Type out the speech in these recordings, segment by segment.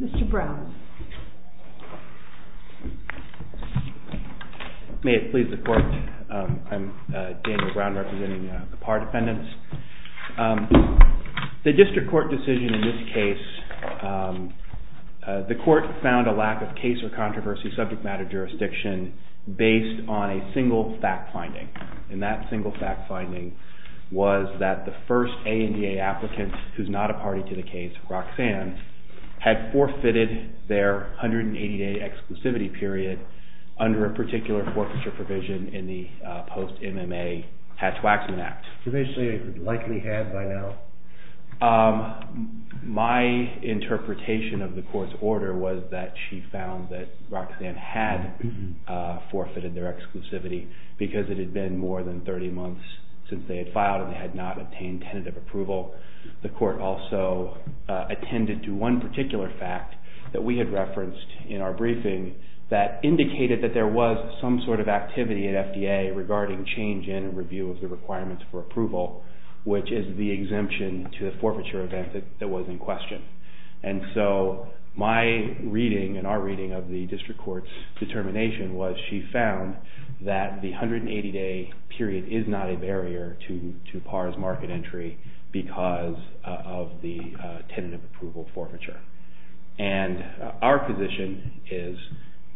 Mr. Brown. May it please the court, I'm Daniel Brown representing the PAR defendants. The district court decision in this case, the court found a lack of case or controversy subject matter jurisdiction based on a single fact finding. And that single fact finding was that the first ANDA applicant, who's not a party to the case, Roxanne, had forfeited their 180-day exclusivity period under a particular forfeiture provision in the post-MMA Hatch-Waxman Act. You basically likely had by now? My interpretation of the court's order was that she found that Roxanne had forfeited their exclusivity because it had been more than 30 months since they had filed and they had not obtained tentative approval. The court also attended to one particular fact that we had referenced in our briefing that indicated that there was some sort of activity at FDA regarding change in and review of the requirements for approval, which is the exemption to the forfeiture event that was in question. And so my reading and our reading of the district court's determination was she found that the 180-day period is not a barrier to PAR's market entry because of the tentative approval forfeiture. And our position is,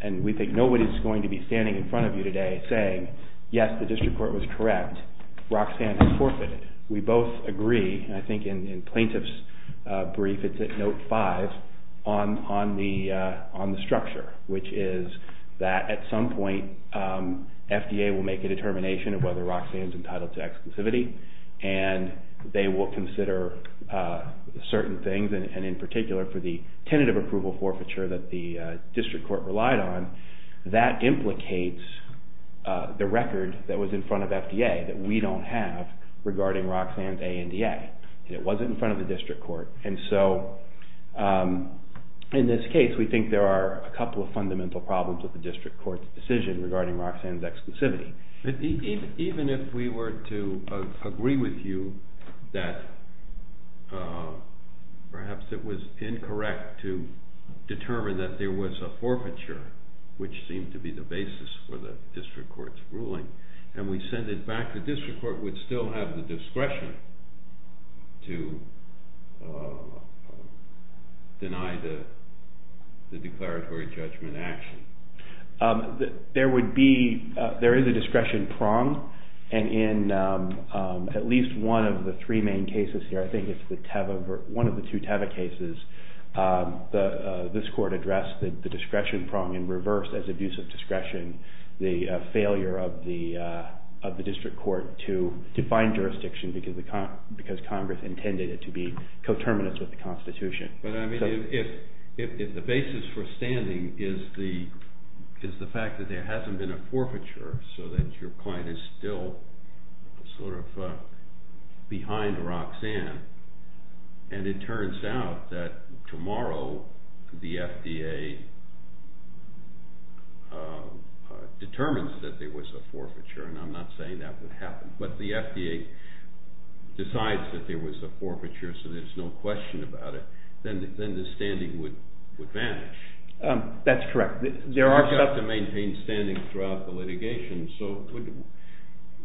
and we think nobody's going to be standing in front of you today saying, yes, the district court was correct, Roxanne has forfeited. We both agree, and I think in Plaintiff's brief it's at note five, on the structure, which is that at some point FDA will make a determination of whether Roxanne's entitled to exclusivity, and they will consider certain things, and in particular for the tentative approval forfeiture that the district court relied on, that implicates the record that was in front of FDA that we don't have regarding Roxanne's ANDA, and it wasn't in front of the district court. And so in this case, we think there are a couple of fundamental problems with the district court's decision regarding Roxanne's exclusivity. Even if we were to agree with you that perhaps it was incorrect to determine that there was a forfeiture, which seemed to be the basis for the district court's ruling, and we send it back, the district court would still have the discretion to deny the declaratory judgment action. There is a discretion prong, and in at least one of the three main cases here, I think it's one of the two Teva cases, this court addressed the discretion prong in reverse as abuse of discretion, the failure of the district court to find jurisdiction because Congress intended it to be coterminous with the Constitution. But I mean, if the basis for standing is the fact that there hasn't been a forfeiture, so that your client is still sort of behind Roxanne, and it turns out that tomorrow the FDA determines that there was a forfeiture, and I'm not saying that would happen, but the FDA decides that there was a forfeiture, so there's no question about it, then the standing would vanish. That's correct. So we have to maintain standing throughout the litigation, so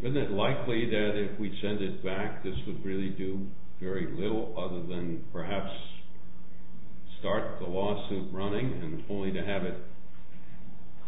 isn't it likely that if we send it back, this would really do very little other than perhaps start the lawsuit running, and only to have it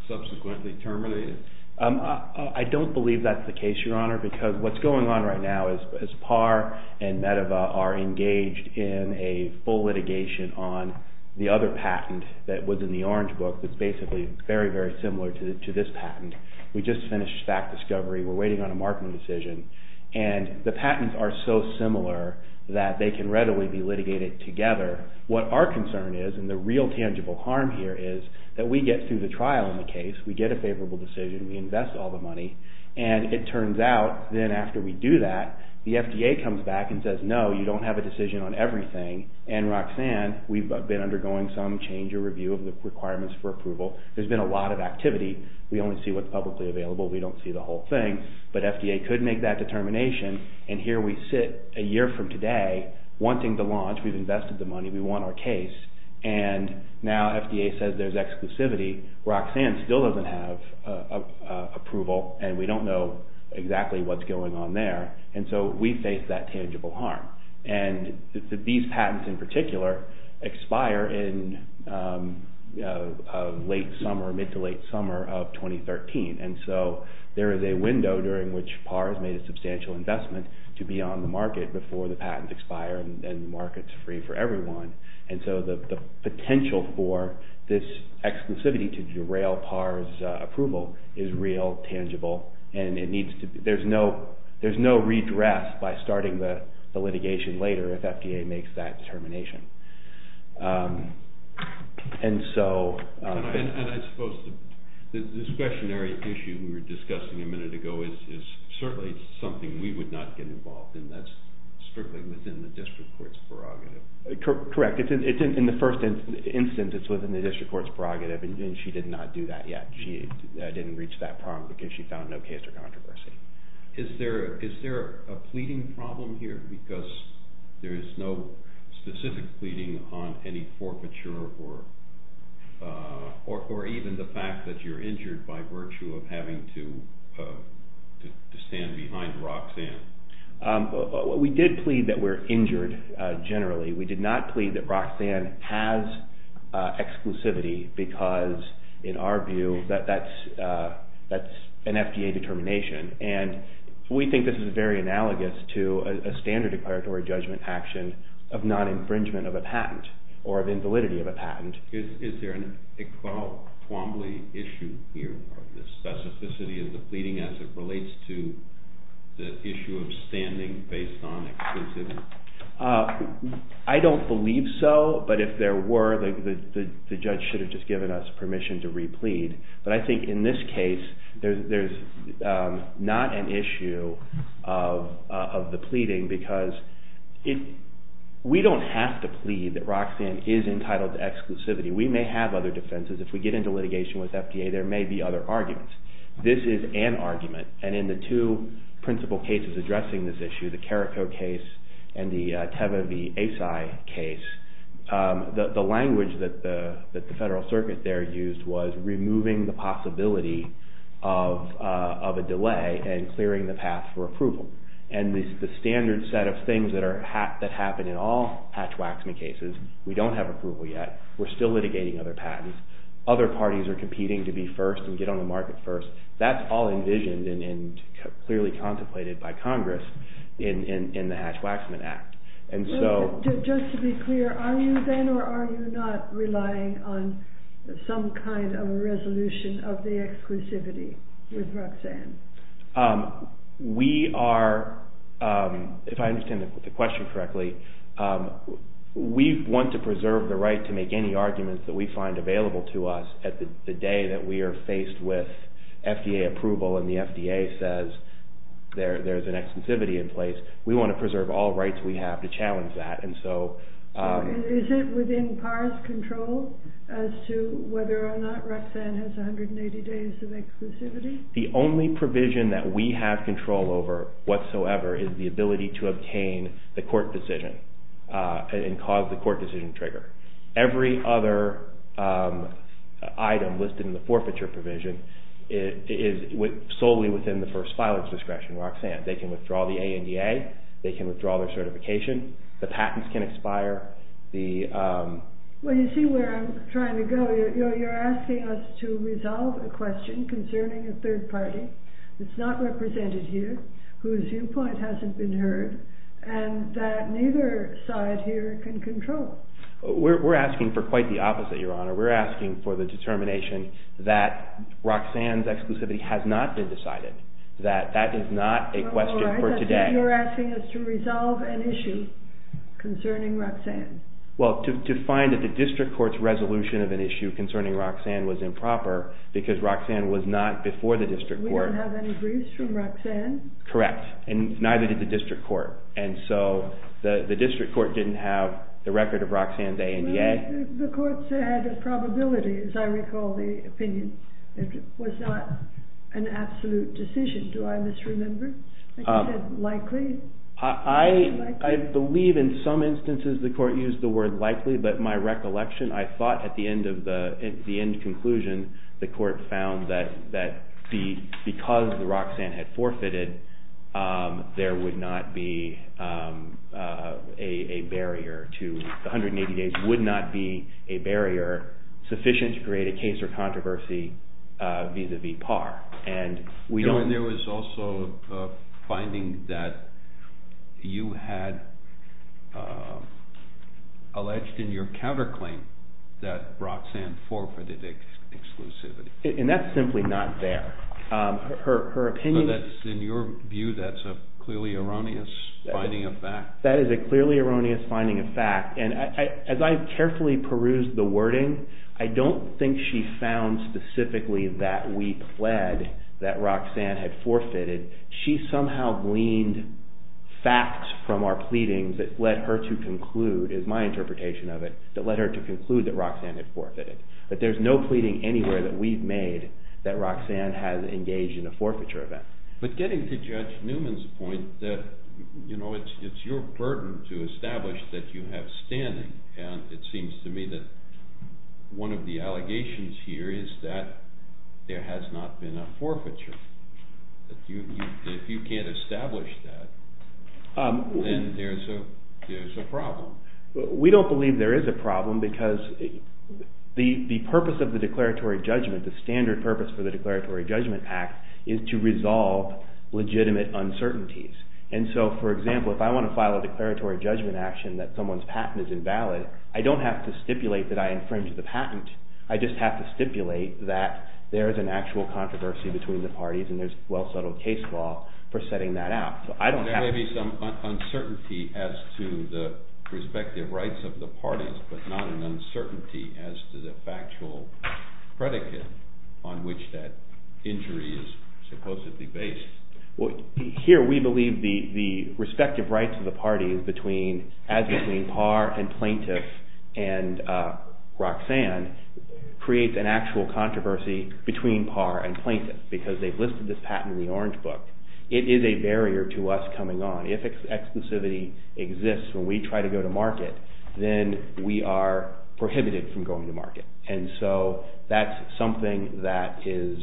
subsequently terminated? I don't believe that's the case, Your Honor, because what's going on right now is PAR and Medeva are engaged in a full litigation on the other patent that was in the orange book that's basically very, very similar to this patent. We just finished fact discovery, we're waiting on a markman decision, and the patents are so similar that they can readily be litigated together. What our concern is, and the real tangible harm here is that we get through the trial in the case, we get a favorable decision, we invest all the money, and it turns out then after we do that, the FDA comes back and says, no, you don't have a decision on everything, and Roxanne, we've been undergoing some change or review of the requirements for approval, there's been a lot of activity, we only see what's publicly available, we don't see the whole thing, but FDA could make that determination, and here we sit a year from today, wanting to launch, we've invested the money, we want our case, and now FDA says there's exclusivity, Roxanne still doesn't have approval, and we don't know exactly what's going on there, and so we face that tangible harm, and these patents in particular expire in late summer, mid to late summer of 2013, and so there is a window during which PARs made a substantial investment to be on the market before the patents expire, and the market's free for everyone, and so the potential for this exclusivity to derail PARs approval is real, tangible, and there's no redress by starting the litigation later if FDA makes that determination. And so, and I suppose the discretionary issue we were discussing a minute ago is certainly something we would not get involved in, that's strictly within the district court's prerogative. Correct, it's in the first instance, it's within the district court's prerogative, and she did not do that yet, she didn't reach that problem because she found no case or controversy. Is there a pleading problem here, because there is no specific pleading on any forfeiture or even the fact that you're injured by virtue of having to stand behind Roxanne? We did plead that we're injured generally, we did not plead that Roxanne has exclusivity because in our view that's an FDA determination, and we think this is very analogous to a standard declaratory judgment action of non-infringement of a patent, or of invalidity of a patent. Is there an equality issue here, or the specificity of the pleading as it relates to the issue of standing based on exclusivity? I don't believe so, but if there were, the judge should have just given us permission to re-plead, but I think in this case there's not an issue of the pleading, because we don't have to plead that Roxanne is entitled to exclusivity, we may have other defenses, if we get into litigation with FDA there may be other arguments. This is an argument, and in the two principal cases addressing this issue, the Carrico case and the Teva V. Asi case, the language that the Federal Circuit there used was removing the possibility of a delay and clearing the path for approval, and the standard set of things that happen in all Hatch-Waxman cases, we don't have approval yet, we're still litigating other patents, other parties are competing to be first and get on the market first, and we don't have approval yet. That's all envisioned and clearly contemplated by Congress in the Hatch-Waxman Act. Just to be clear, are you then or are you not relying on some kind of a resolution of the exclusivity with Roxanne? We are, if I understand the question correctly, we want to preserve the right to make any arguments that we find available to us at the day that we are faced with FDA approval and the FDA says there's an exclusivity in place, we want to preserve all rights we have to challenge that. Is it within PAR's control as to whether or not Roxanne has 180 days of exclusivity? The only provision that we have control over whatsoever is the ability to obtain the court decision and cause the court decision trigger. Every other item listed in the forfeiture provision is solely within the first filer's discretion, Roxanne. They can withdraw the ANDA, they can withdraw their certification, the patents can expire. Well, you see where I'm trying to go. You're asking us to resolve a question concerning a third party that's not represented here, whose viewpoint hasn't been heard, and that neither side here can control. We're asking for quite the opposite, Your Honor. We're asking for the determination that Roxanne's exclusivity has not been decided, that that is not a question for today. You're asking us to resolve an issue concerning Roxanne. Well, to find that the district court's resolution of an issue concerning Roxanne was improper because Roxanne was not before the district court. We don't have any briefs from Roxanne? Correct, and neither did the district court, and so the district court didn't have the record of Roxanne's ANDA. The court said the probability, as I recall the opinion, was not an absolute decision. Do I misremember? Likely? I believe in some instances the court used the word likely, but my recollection, I thought at the end conclusion, the court found that because Roxanne had forfeited, there would not be a barrier, 180 days would not be a barrier sufficient to create a case or controversy vis-a-vis PAR. And there was also a finding that you had alleged in your counterclaim that Roxanne forfeited exclusivity. And that's simply not there. So in your view that's a clearly erroneous finding of fact? That is a clearly erroneous finding of fact, and as I carefully perused the wording, I don't think she found specifically that we pled that Roxanne had forfeited. She somehow gleaned facts from our pleadings that led her to conclude, is my interpretation of it, that Roxanne had forfeited. But there's no pleading anywhere that we've made that Roxanne has engaged in a forfeiture event. But getting to Judge Newman's point, it's your burden to establish that you have standing, and it seems to me that one of the allegations here is that there has not been a forfeiture. If you can't establish that, then there's a problem. We don't believe there is a problem because the purpose of the Declaratory Judgment, the standard purpose for the Declaratory Judgment Act, is to resolve legitimate uncertainties. And so, for example, if I want to file a Declaratory Judgment action that someone's patent is invalid, I don't have to stipulate that I infringed the patent. I just have to stipulate that there is an actual controversy between the parties and there's well-settled case law for setting that out. There may be some uncertainty as to the respective rights of the parties, but not an uncertainty as to the factual predicate on which that injury is supposedly based. Here, we believe the respective rights of the parties as between Parr and Plaintiff and Roxanne creates an actual controversy between Parr and Plaintiff because they've listed this patent in the Orange Book. It is a barrier to us coming on. If exclusivity exists when we try to go to market, then we are prohibited from going to market. And so, that's something that is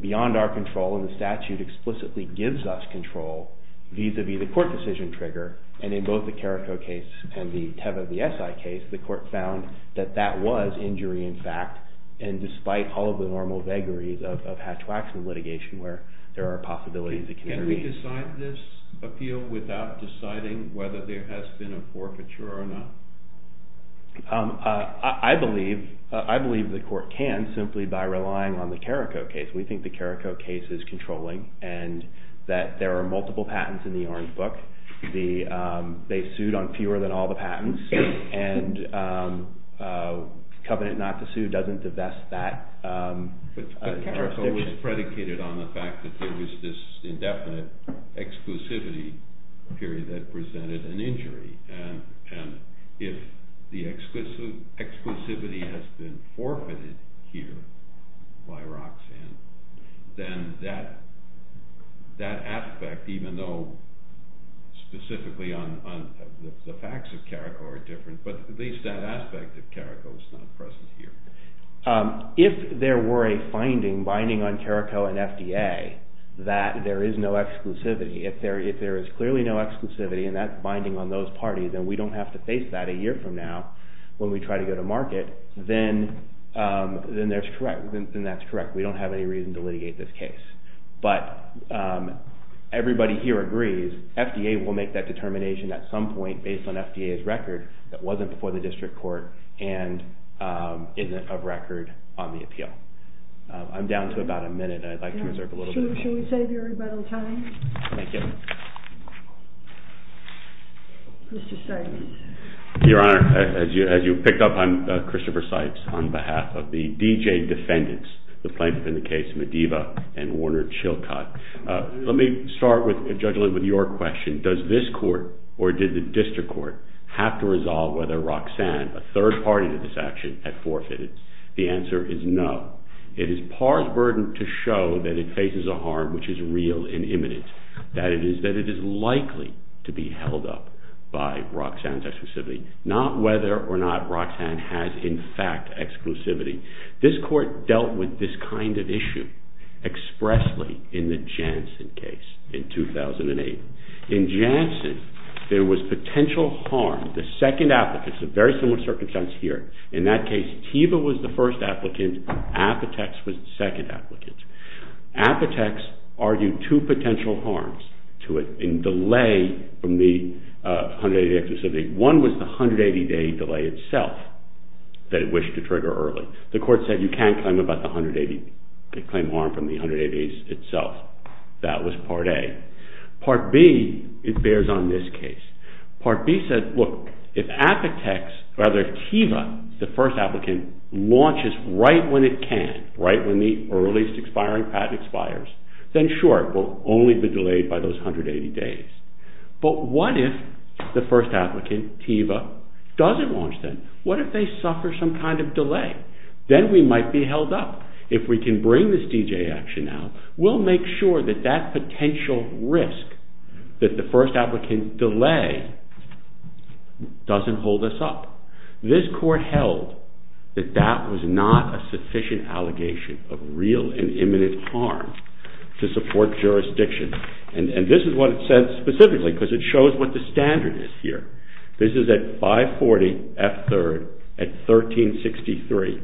beyond our control and the statute explicitly gives us control vis-à-vis the court decision trigger. And in both the Carrico case and the Teva v. Esai case, the court found that that was injury in fact. And despite all of the normal vagaries of hatchwack litigation where there are possibilities that can intervene. Can we decide this appeal without deciding whether there has been a forfeiture or not? I believe the court can simply by relying on the Carrico case. We think the Carrico case is controlling and that there are multiple patents in the Orange Book. They sued on fewer than all the patents and Covenant not to sue doesn't divest that. But Carrico was predicated on the fact that there was this indefinite exclusivity period that presented an injury. And if the exclusivity has been forfeited here by Roxanne, then that aspect, even though specifically on the facts of Carrico are different, but at least that aspect of Carrico is not present here. If there were a finding binding on Carrico and FDA that there is no exclusivity. If there is clearly no exclusivity and that's binding on those parties and we don't have to face that a year from now when we try to go to market, then that's correct. We don't have any reason to litigate this case. But everybody here agrees, FDA will make that determination at some point based on FDA's record that wasn't before the district court and isn't of record on the appeal. I'm down to about a minute and I'd like to reserve a little bit of time. Should we save you a little bit of time? Thank you. Your Honor, as you picked up, I'm Christopher Sipes on behalf of the D.J. defendants, the plaintiff in the case Medeva and Warner Chilcott. Let me start with, Judge Lind, with your question. Does this court or did the district court have to resolve whether Roxanne, a third party to this action, had forfeited? The answer is no. It is par's burden to show that it faces a harm which is real and imminent. That it is likely to be held up by Roxanne's exclusivity. Not whether or not Roxanne has in fact exclusivity. This court dealt with this kind of issue expressly in the Janssen case in 2008. In Janssen, there was potential harm. The second applicant, it's a very similar circumstance here. In that case, Teva was the first applicant. Apotex was the second applicant. Apotex argued two potential harms to it in delay from the 180-day exclusivity. One was the 180-day delay itself that it wished to trigger early. The court said you can't claim harm from the 180 days itself. That was part A. Part B, it bears on this case. Part B said if Teva, the first applicant, launches right when it can, right when the earliest expiring patent expires, then sure, it will only be delayed by those 180 days. But what if the first applicant, Teva, doesn't launch then? What if they suffer some kind of delay? Then we might be held up. If we can bring this D.J. action out, we'll make sure that that potential risk that the first applicant delay doesn't hold us up. This court held that that was not a sufficient allegation of real and imminent harm to support jurisdiction. And this is what it said specifically because it shows what the standard is here. This is at 540 F. 3rd at 1363.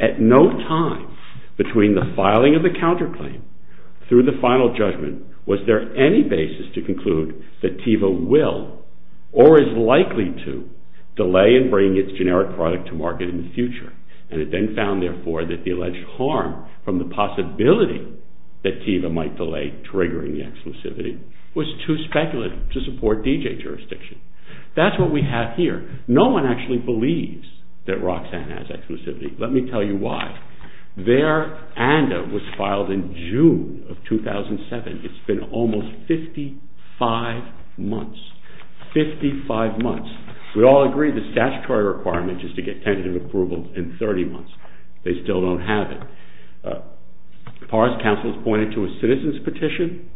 At no time between the filing of the counterclaim through the final judgment was there any basis to conclude that Teva will or is likely to delay and bring its generic product to market in the future. And it then found, therefore, that the alleged harm from the possibility that Teva might delay triggering the exclusivity was too speculative to support D.J. jurisdiction. That's what we have here. No one actually believes that Roxanne has exclusivity. Let me tell you why. Their ANDA was filed in June of 2007. It's been almost 55 months. 55 months. We all agree the statutory requirement is to get tentative approval in 30 months. They still don't have it. As far as counsel is pointed to a citizen's petition,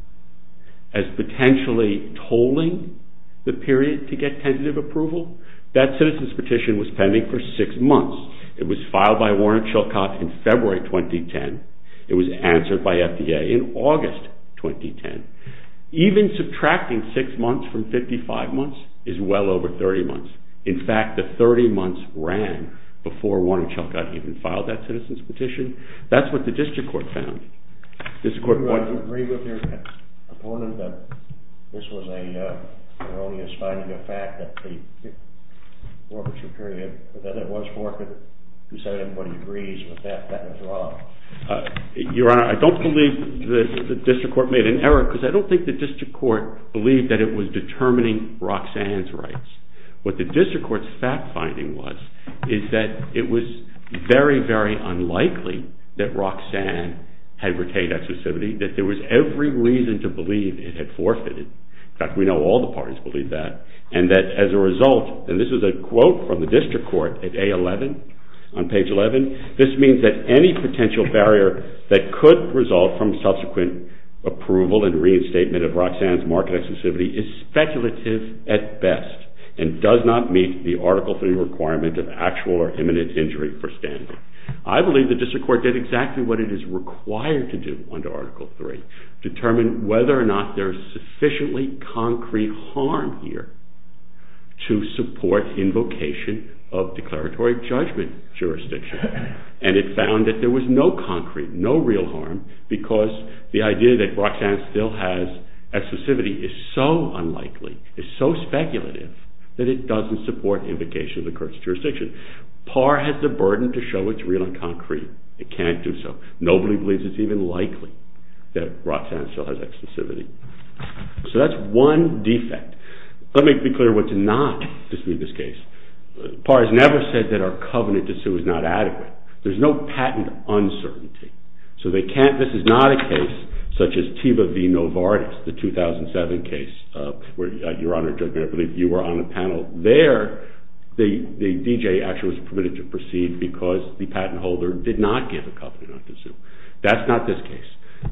as potentially tolling the period to get tentative approval, that citizen's petition was pending for 6 months. It was filed by Warren and Chilcott in February 2010. It was answered by FDA in August 2010. Even subtracting 6 months from 55 months is well over 30 months. In fact, the 30 months ran before Warren and Chilcott even filed that citizen's petition. That's what the district court found. Do you agree with your opponent that this was a erroneous finding of fact that the forfeiture period was forfeited? You said everybody agrees with that. That was wrong. Your Honor, I don't believe the district court made an error. I don't think the district court believed that it was determining Roxanne's rights. What the district court's fact-finding was is that it was very, very unlikely that Roxanne had retained accessibility. That there was every reason to believe it had forfeited. In fact, we know all the parties believe that. And that as a result, and this is a quote from the district court at A11, on page 11, this means that any potential barrier that could result from subsequent approval and reinstatement of Roxanne's marked accessibility is speculative at best and does not meet the Article 3 requirement of actual or imminent injury for Stanley. I believe the district court did exactly what it is required to do under Article 3. Determine whether or not there is sufficiently concrete harm here to support invocation of declaratory judgment jurisdiction. And it found that there was no concrete, no real harm because the idea that Roxanne still has accessibility is so unlikely, is so speculative that it doesn't support invocation of the court's jurisdiction. PAR has the burden to show it's real and concrete. It can't do so. Nobody believes it's even likely that Roxanne still has accessibility. So that's one defect. Let me be clear what's not, just to be this case. PAR has never said that our covenant to sue is not adequate. There's no patent uncertainty. So they can't, this is not a case such as Teba v. Novartis, the 2007 case where your Honor, Judge Mayer, I believe you were on the panel there. The D.J. actually was permitted to proceed because the patent holder did not give a covenant not to sue. That's not this case.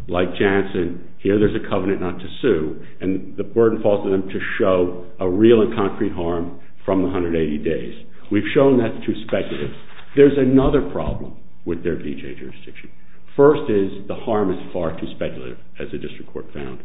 Like Jansen, here there's a covenant not to sue and the burden falls on them to show a real and concrete harm from 180 days. We've shown that's too speculative. There's another problem with their D.J. jurisdiction. First is the harm is far too speculative as the district court found.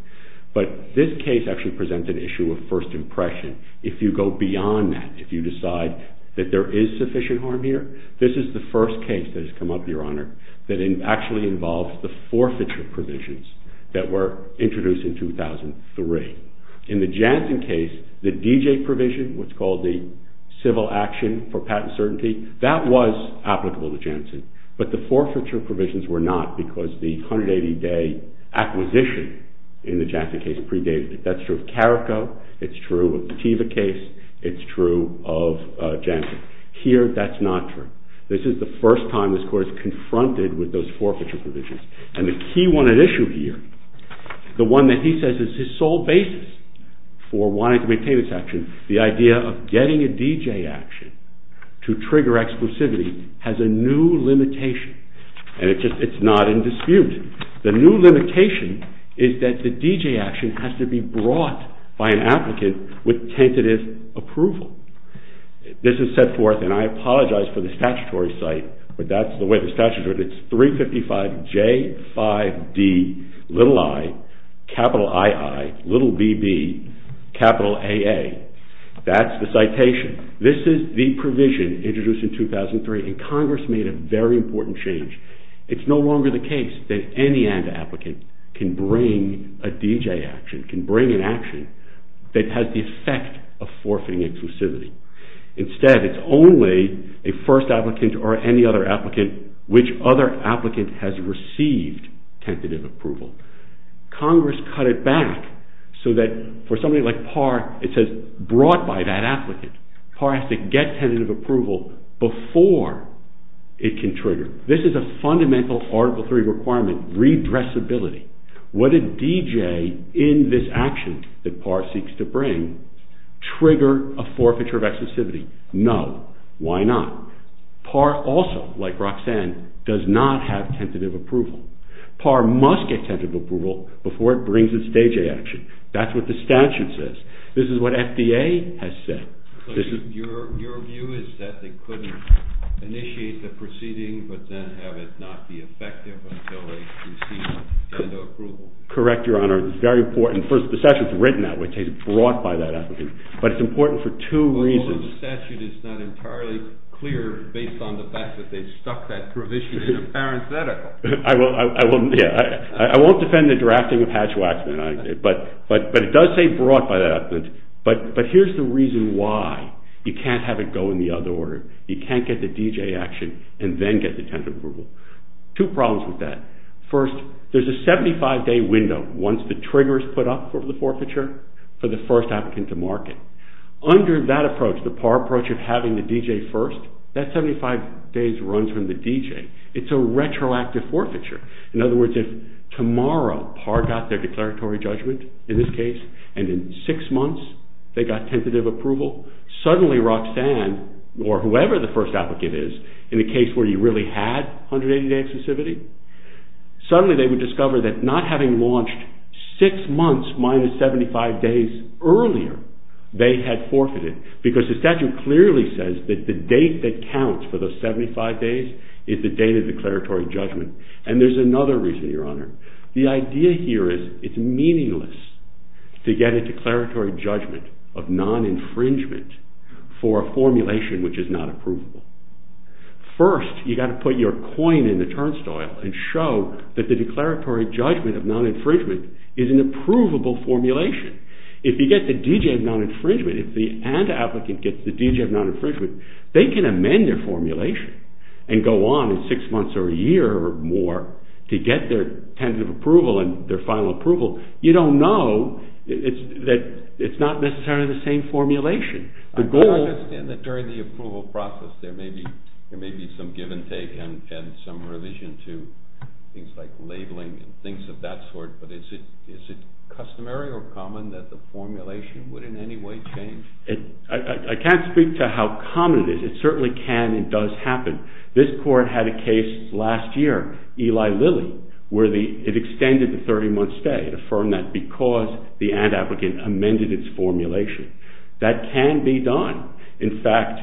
But this case actually presents an issue of first impression. If you go beyond that, if you decide that there is sufficient harm here, this is the first case that has come up, Your Honor, that actually involves the forfeiture provisions that were introduced in 2003. In the Jansen case, the D.J. provision, what's called the civil action for patent certainty, that was applicable to Jansen. But the forfeiture provisions were not because the 180-day acquisition in the Jansen case predated it. That's true of Carrico, it's true of the Teva case, it's true of Jansen. Here, that's not true. This is the first time this court has confronted with those forfeiture provisions. And the key one at issue here, the one that he says is his sole basis for wanting to maintain this action, the idea of getting a D.J. action to trigger exclusivity has a new limitation. And it's not in dispute. The new limitation is that the D.J. action has to be brought by an applicant with tentative approval. This is set forth, and I apologize for the statutory site, but that's the way the statute is. It's 355J5DiIIbbAA. That's the citation. This is the provision introduced in 2003, and Congress made a very important change. It's no longer the case that any anti-applicant can bring a D.J. action, can bring an action that has the effect of forfeiting exclusivity. Instead, it's only a first applicant or any other applicant which other applicant has received tentative approval. Congress cut it back so that for somebody like Parr, it says brought by that applicant. Parr has to get tentative approval before it can trigger. This is a fundamental Article III requirement, redressability. Would a D.J. in this action that Parr seeks to bring trigger a forfeiture of exclusivity? No. Why not? Parr also, like Roxanne, does not have tentative approval. Parr must get tentative approval before it brings its D.J. action. That's what the statute says. This is what FDA has said. Your view is that they couldn't initiate the proceeding, but then have it not be effective until they receive tentative approval? Correct, Your Honor. The statute is written that way. It says brought by that applicant. But it's important for two reasons. The statute is not entirely clear based on the fact that they stuck that provision in a parenthetical. I won't defend the drafting of Hatch-Waxman. But it does say brought by that applicant. But here's the reason why. You can't have it go in the other order. You can't get the D.J. action and then get the tentative approval. Two problems with that. First, there's a 75-day window once the trigger is put up for the forfeiture for the first applicant to market. Under that approach, the Parr approach of having the D.J. first, that 75 days runs from the D.J. It's a retroactive forfeiture. In other words, if tomorrow Parr got their declaratory judgment, in this case, and in six months they got tentative approval, suddenly Roxanne or whoever the first applicant is in a case where you really had 180-day exclusivity, suddenly they would discover that not having launched six months minus 75 days earlier, they had forfeited. Because the statute clearly says that the date that counts for the 75 days is the date of declaratory judgment. And there's another reason, Your Honor. The idea here is it's meaningless to get a declaratory judgment of non-infringement for a formulation which is not approvable. First, you've got to put your coin in the turnstile and show that the declaratory judgment of non-infringement is an approvable formulation. If you get the D.J. of non-infringement, if the applicant gets the D.J. of non-infringement, they can amend their formulation and go on in six months or a year or more to get their tentative approval and their final approval. You don't know that it's not necessarily the same formulation. I understand that during the approval process there may be some give and take and some revision to things like labeling and things of that sort, but is it customary or common that the formulation would in any way change? I can't speak to how common it is. It certainly can and does happen. This court had a case last year, Eli Lilly, where it extended the 30-month stay. It affirmed that because the ad applicant amended its formulation, it can be done. In fact,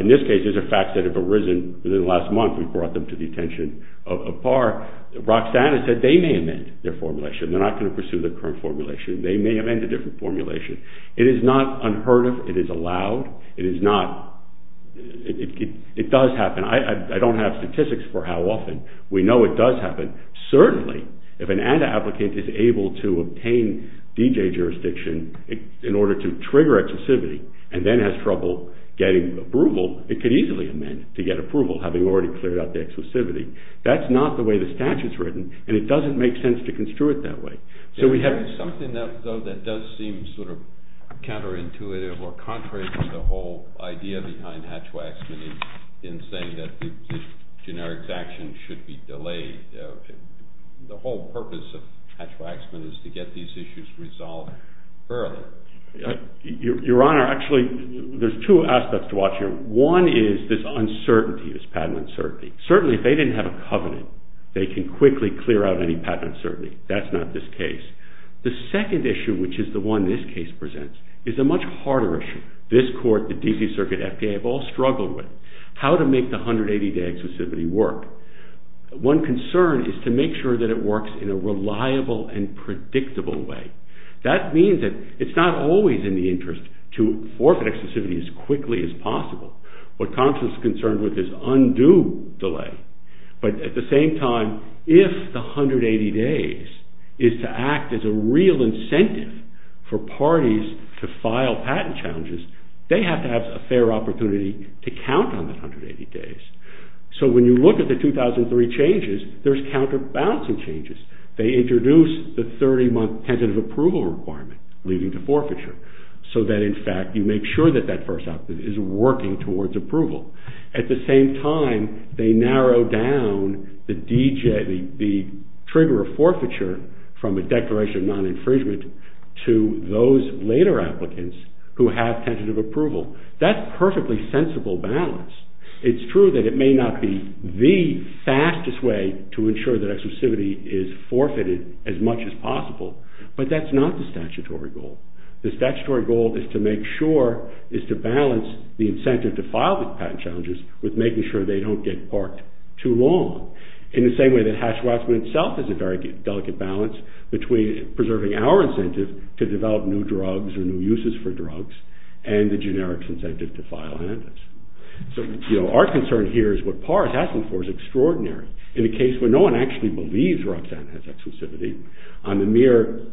in this case, these are facts that have arisen within the last month. We brought them to the attention of PAR. Roxanne said they may amend their formulation. They're not going to pursue the current formulation. They may amend a different formulation. It is not unheard of. It is allowed. It is not... It does happen. I don't have statistics for how often. We know it does happen. Certainly, if an ad applicant is able to obtain D.J. jurisdiction in order to trigger exclusivity and then has trouble getting approval, it could easily amend to get approval, having already cleared out the exclusivity. That's not the way the statute's written and it doesn't make sense to construe it that way. So we have... Something though that does seem sort of counterintuitive or contrary to the whole idea behind Hatch-Waxman in saying that generic actions should be delayed. The whole purpose of Hatch-Waxman is to get these issues resolved early. Your Honor, actually there's two aspects to watch here. One is this uncertainty, this patent uncertainty. Certainly, if they didn't have a covenant, they can quickly clear out any patent uncertainty. That's not this case. The second issue, which is the one this case presents, is a much harder issue. This Court, the D.C. Circuit, the F.B.A., have all struggled with. How to make the 180-day exclusivity work? One concern is to make sure that it works in a reliable and predictable way. That means that it's not always in the interest to forfeit exclusivity as quickly as possible. What Compton's concerned with is undo delay. But at the same time, if the 180 days is to act as a real incentive for parties to file patent challenges, they have to have a fair opportunity to count on the 180 days. So when you look at the 2003 changes, there's no counterbalancing changes. They introduce the 30-month tentative approval requirement leading to forfeiture. So that, in fact, you make sure that that first option is working towards approval. At the same time, they narrow down the trigger of forfeiture from a declaration of non-infringement to those later applicants who have tentative approval. That's perfectly sensible balance. It's true that it may not be the fastest way to ensure that exclusivity is forfeited as much as possible, but that's not the statutory goal. The statutory goal is to make sure is to balance the incentive to file the patent challenges with making sure they don't get parked too long. In the same way that Hatch-Wasserman itself is a very delicate balance between preserving our incentive to develop new drugs or new uses for drugs and the generic incentive to file antics. So, you know, our concern here is what Parr is asking for is extraordinary in a case where no one actually believes Roxanne has exclusivity on the mere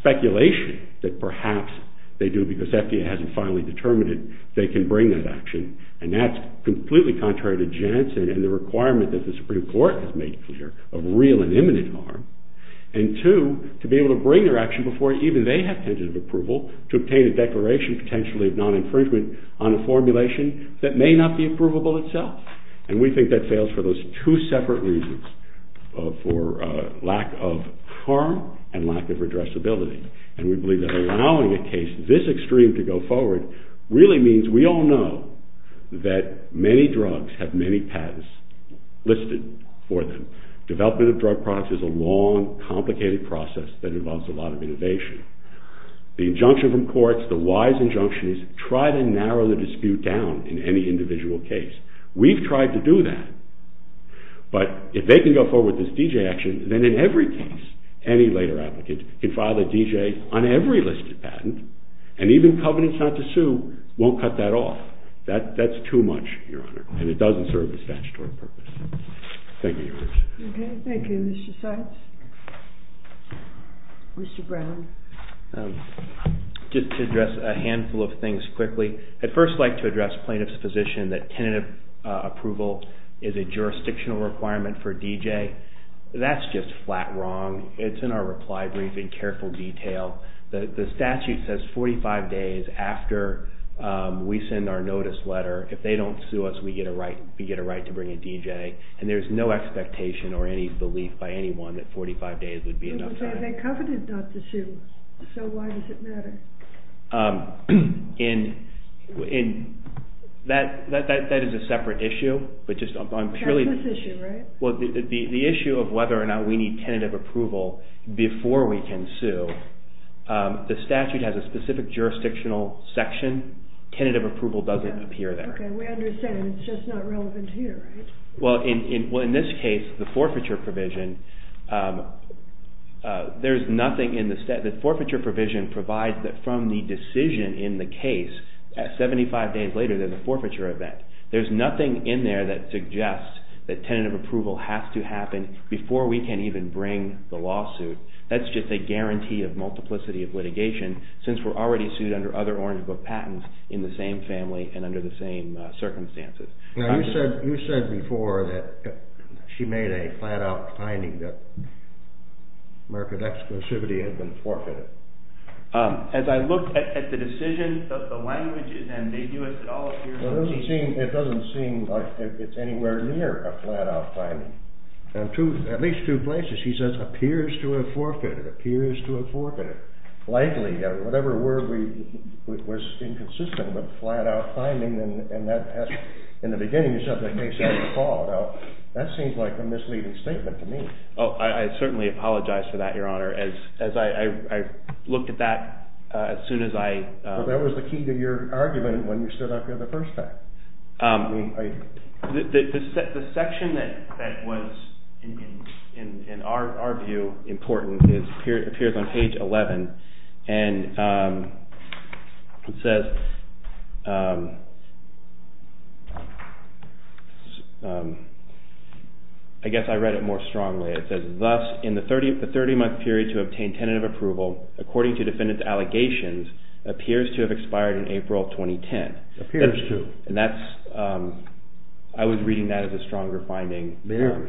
speculation that perhaps they do because FDA hasn't finally determined they can bring that action and that's completely contrary to Jensen and the requirement that the Supreme Court has made clear of real and imminent harm. And two, to be able to bring their action before even they have tentative approval to obtain a declaration potentially of non-infringement on the provable itself. And we think that fails for those two separate reasons. For lack of harm and lack of addressability. And we believe that allowing a case this extreme to go forward really means we all know that many drugs have many patents listed for them. Development of drug products is a long, complicated process that involves a lot of innovation. The injunction from courts, the wise injunction is try to narrow the dispute down in any individual case. We've tried to do that. But if they can go forward with this D.J. action, then in every case any later applicant can file a D.J. on every listed patent and even covenants not to sue won't cut that off. That's too much, Your Honor, and it doesn't serve the statutory purpose. Thank you, Your Honor. Thank you, Mr. Seitz. Mr. Brown. Just to address a handful of things quickly. I'd first like to address plaintiff's position that tentative approval is a jurisdictional requirement for D.J. That's just flat wrong. It's in our reply brief in careful detail. The statute says 45 days after we send our notice letter if they don't sue us, we get a right to bring a D.J. And there's no expectation or any belief by anyone that 45 days would be enough time. You say they covenanted not to sue. So why does it matter? That is a separate issue. That's this issue, right? The issue of whether or not we need tentative approval before we can sue. The statute has a specific jurisdictional section. Tentative approval doesn't appear there. We understand. It's just not relevant here, right? In this case, the forfeiture provision there's nothing in the statute. The forfeiture provision provides that from the decision in the case at 75 days later, there's a forfeiture event. There's nothing in there that suggests that tentative approval has to happen before we can even bring the lawsuit. That's just a guarantee of multiplicity of litigation since we're already sued under other Orange Book patents in the same family and under the same circumstances. You said before that she made a flat-out finding that market exclusivity had been forfeited. As I look at the decision, does the language and they do it at all? It doesn't seem like it's anywhere near a flat-out finding. At least two places she says, appears to have forfeited. Appears to have forfeited. Likely. Whatever word was inconsistent with flat-out finding and that has, in the beginning of the subject, they said default. That seems like a misleading statement to me. I certainly apologize for that, your honor. I looked at that as soon as I... That was the key to your argument when you stood up here the first time. The section that was, in our view, important appears on page 11 and it says I guess I read it more strongly. It says, thus, in the 30-month period to obtain tentative approval according to defendant's allegations appears to have expired in April 2010. Appears to. And that's... I was reading that as a stronger finding.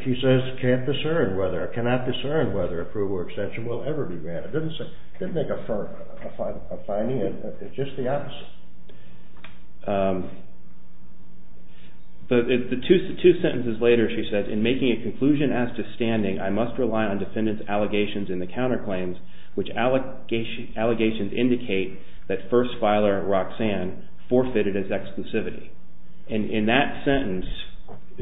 She says, can't discern whether or cannot discern whether approval or extension will ever be granted. Didn't make a finding. It's just the opposite. Two sentences later, she says, in making a conclusion as to standing, I must rely on defendant's allegations in the counterclaims which allegations indicate that first filer, Roxanne, forfeited his exclusivity. And in that sentence,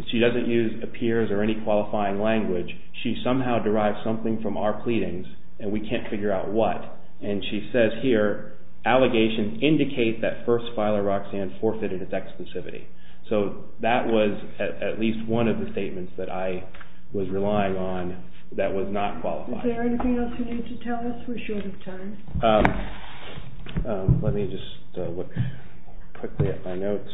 she doesn't use appears or any qualifying language. She somehow derived something from our pleadings and we can't figure out what. And she says here allegations indicate that first filer, Roxanne, forfeited his exclusivity. So that was at least one of the statements that I was relying on that was not qualifying. Is there anything else you need to tell us? We're short of time. Let me just look quickly at my notes.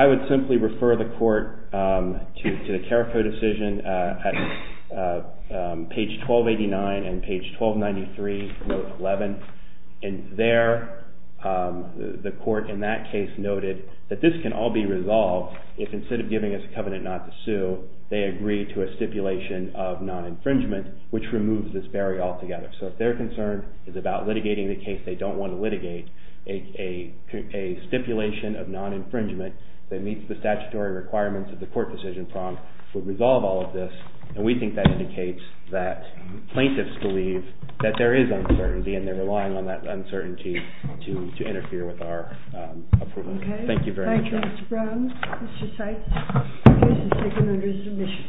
I would simply refer the court to the CARACO decision at page 1289 and page 1293 note 11. And there the court in that case noted that this can all be resolved if instead of giving us a covenant not to sue they agree to a stipulation of non-infringement which removes this barrier altogether. So if their concern is about litigating the case they don't want to litigate a stipulation of non-infringement that meets the statutory requirements of the court and the decision prompt would resolve all of this and we think that indicates that plaintiffs believe that there is uncertainty and they're relying on that uncertainty to interfere with our approval. Thank you very much. Thank you Mr. Brown. Mr. Seitz. The case is taken under submission.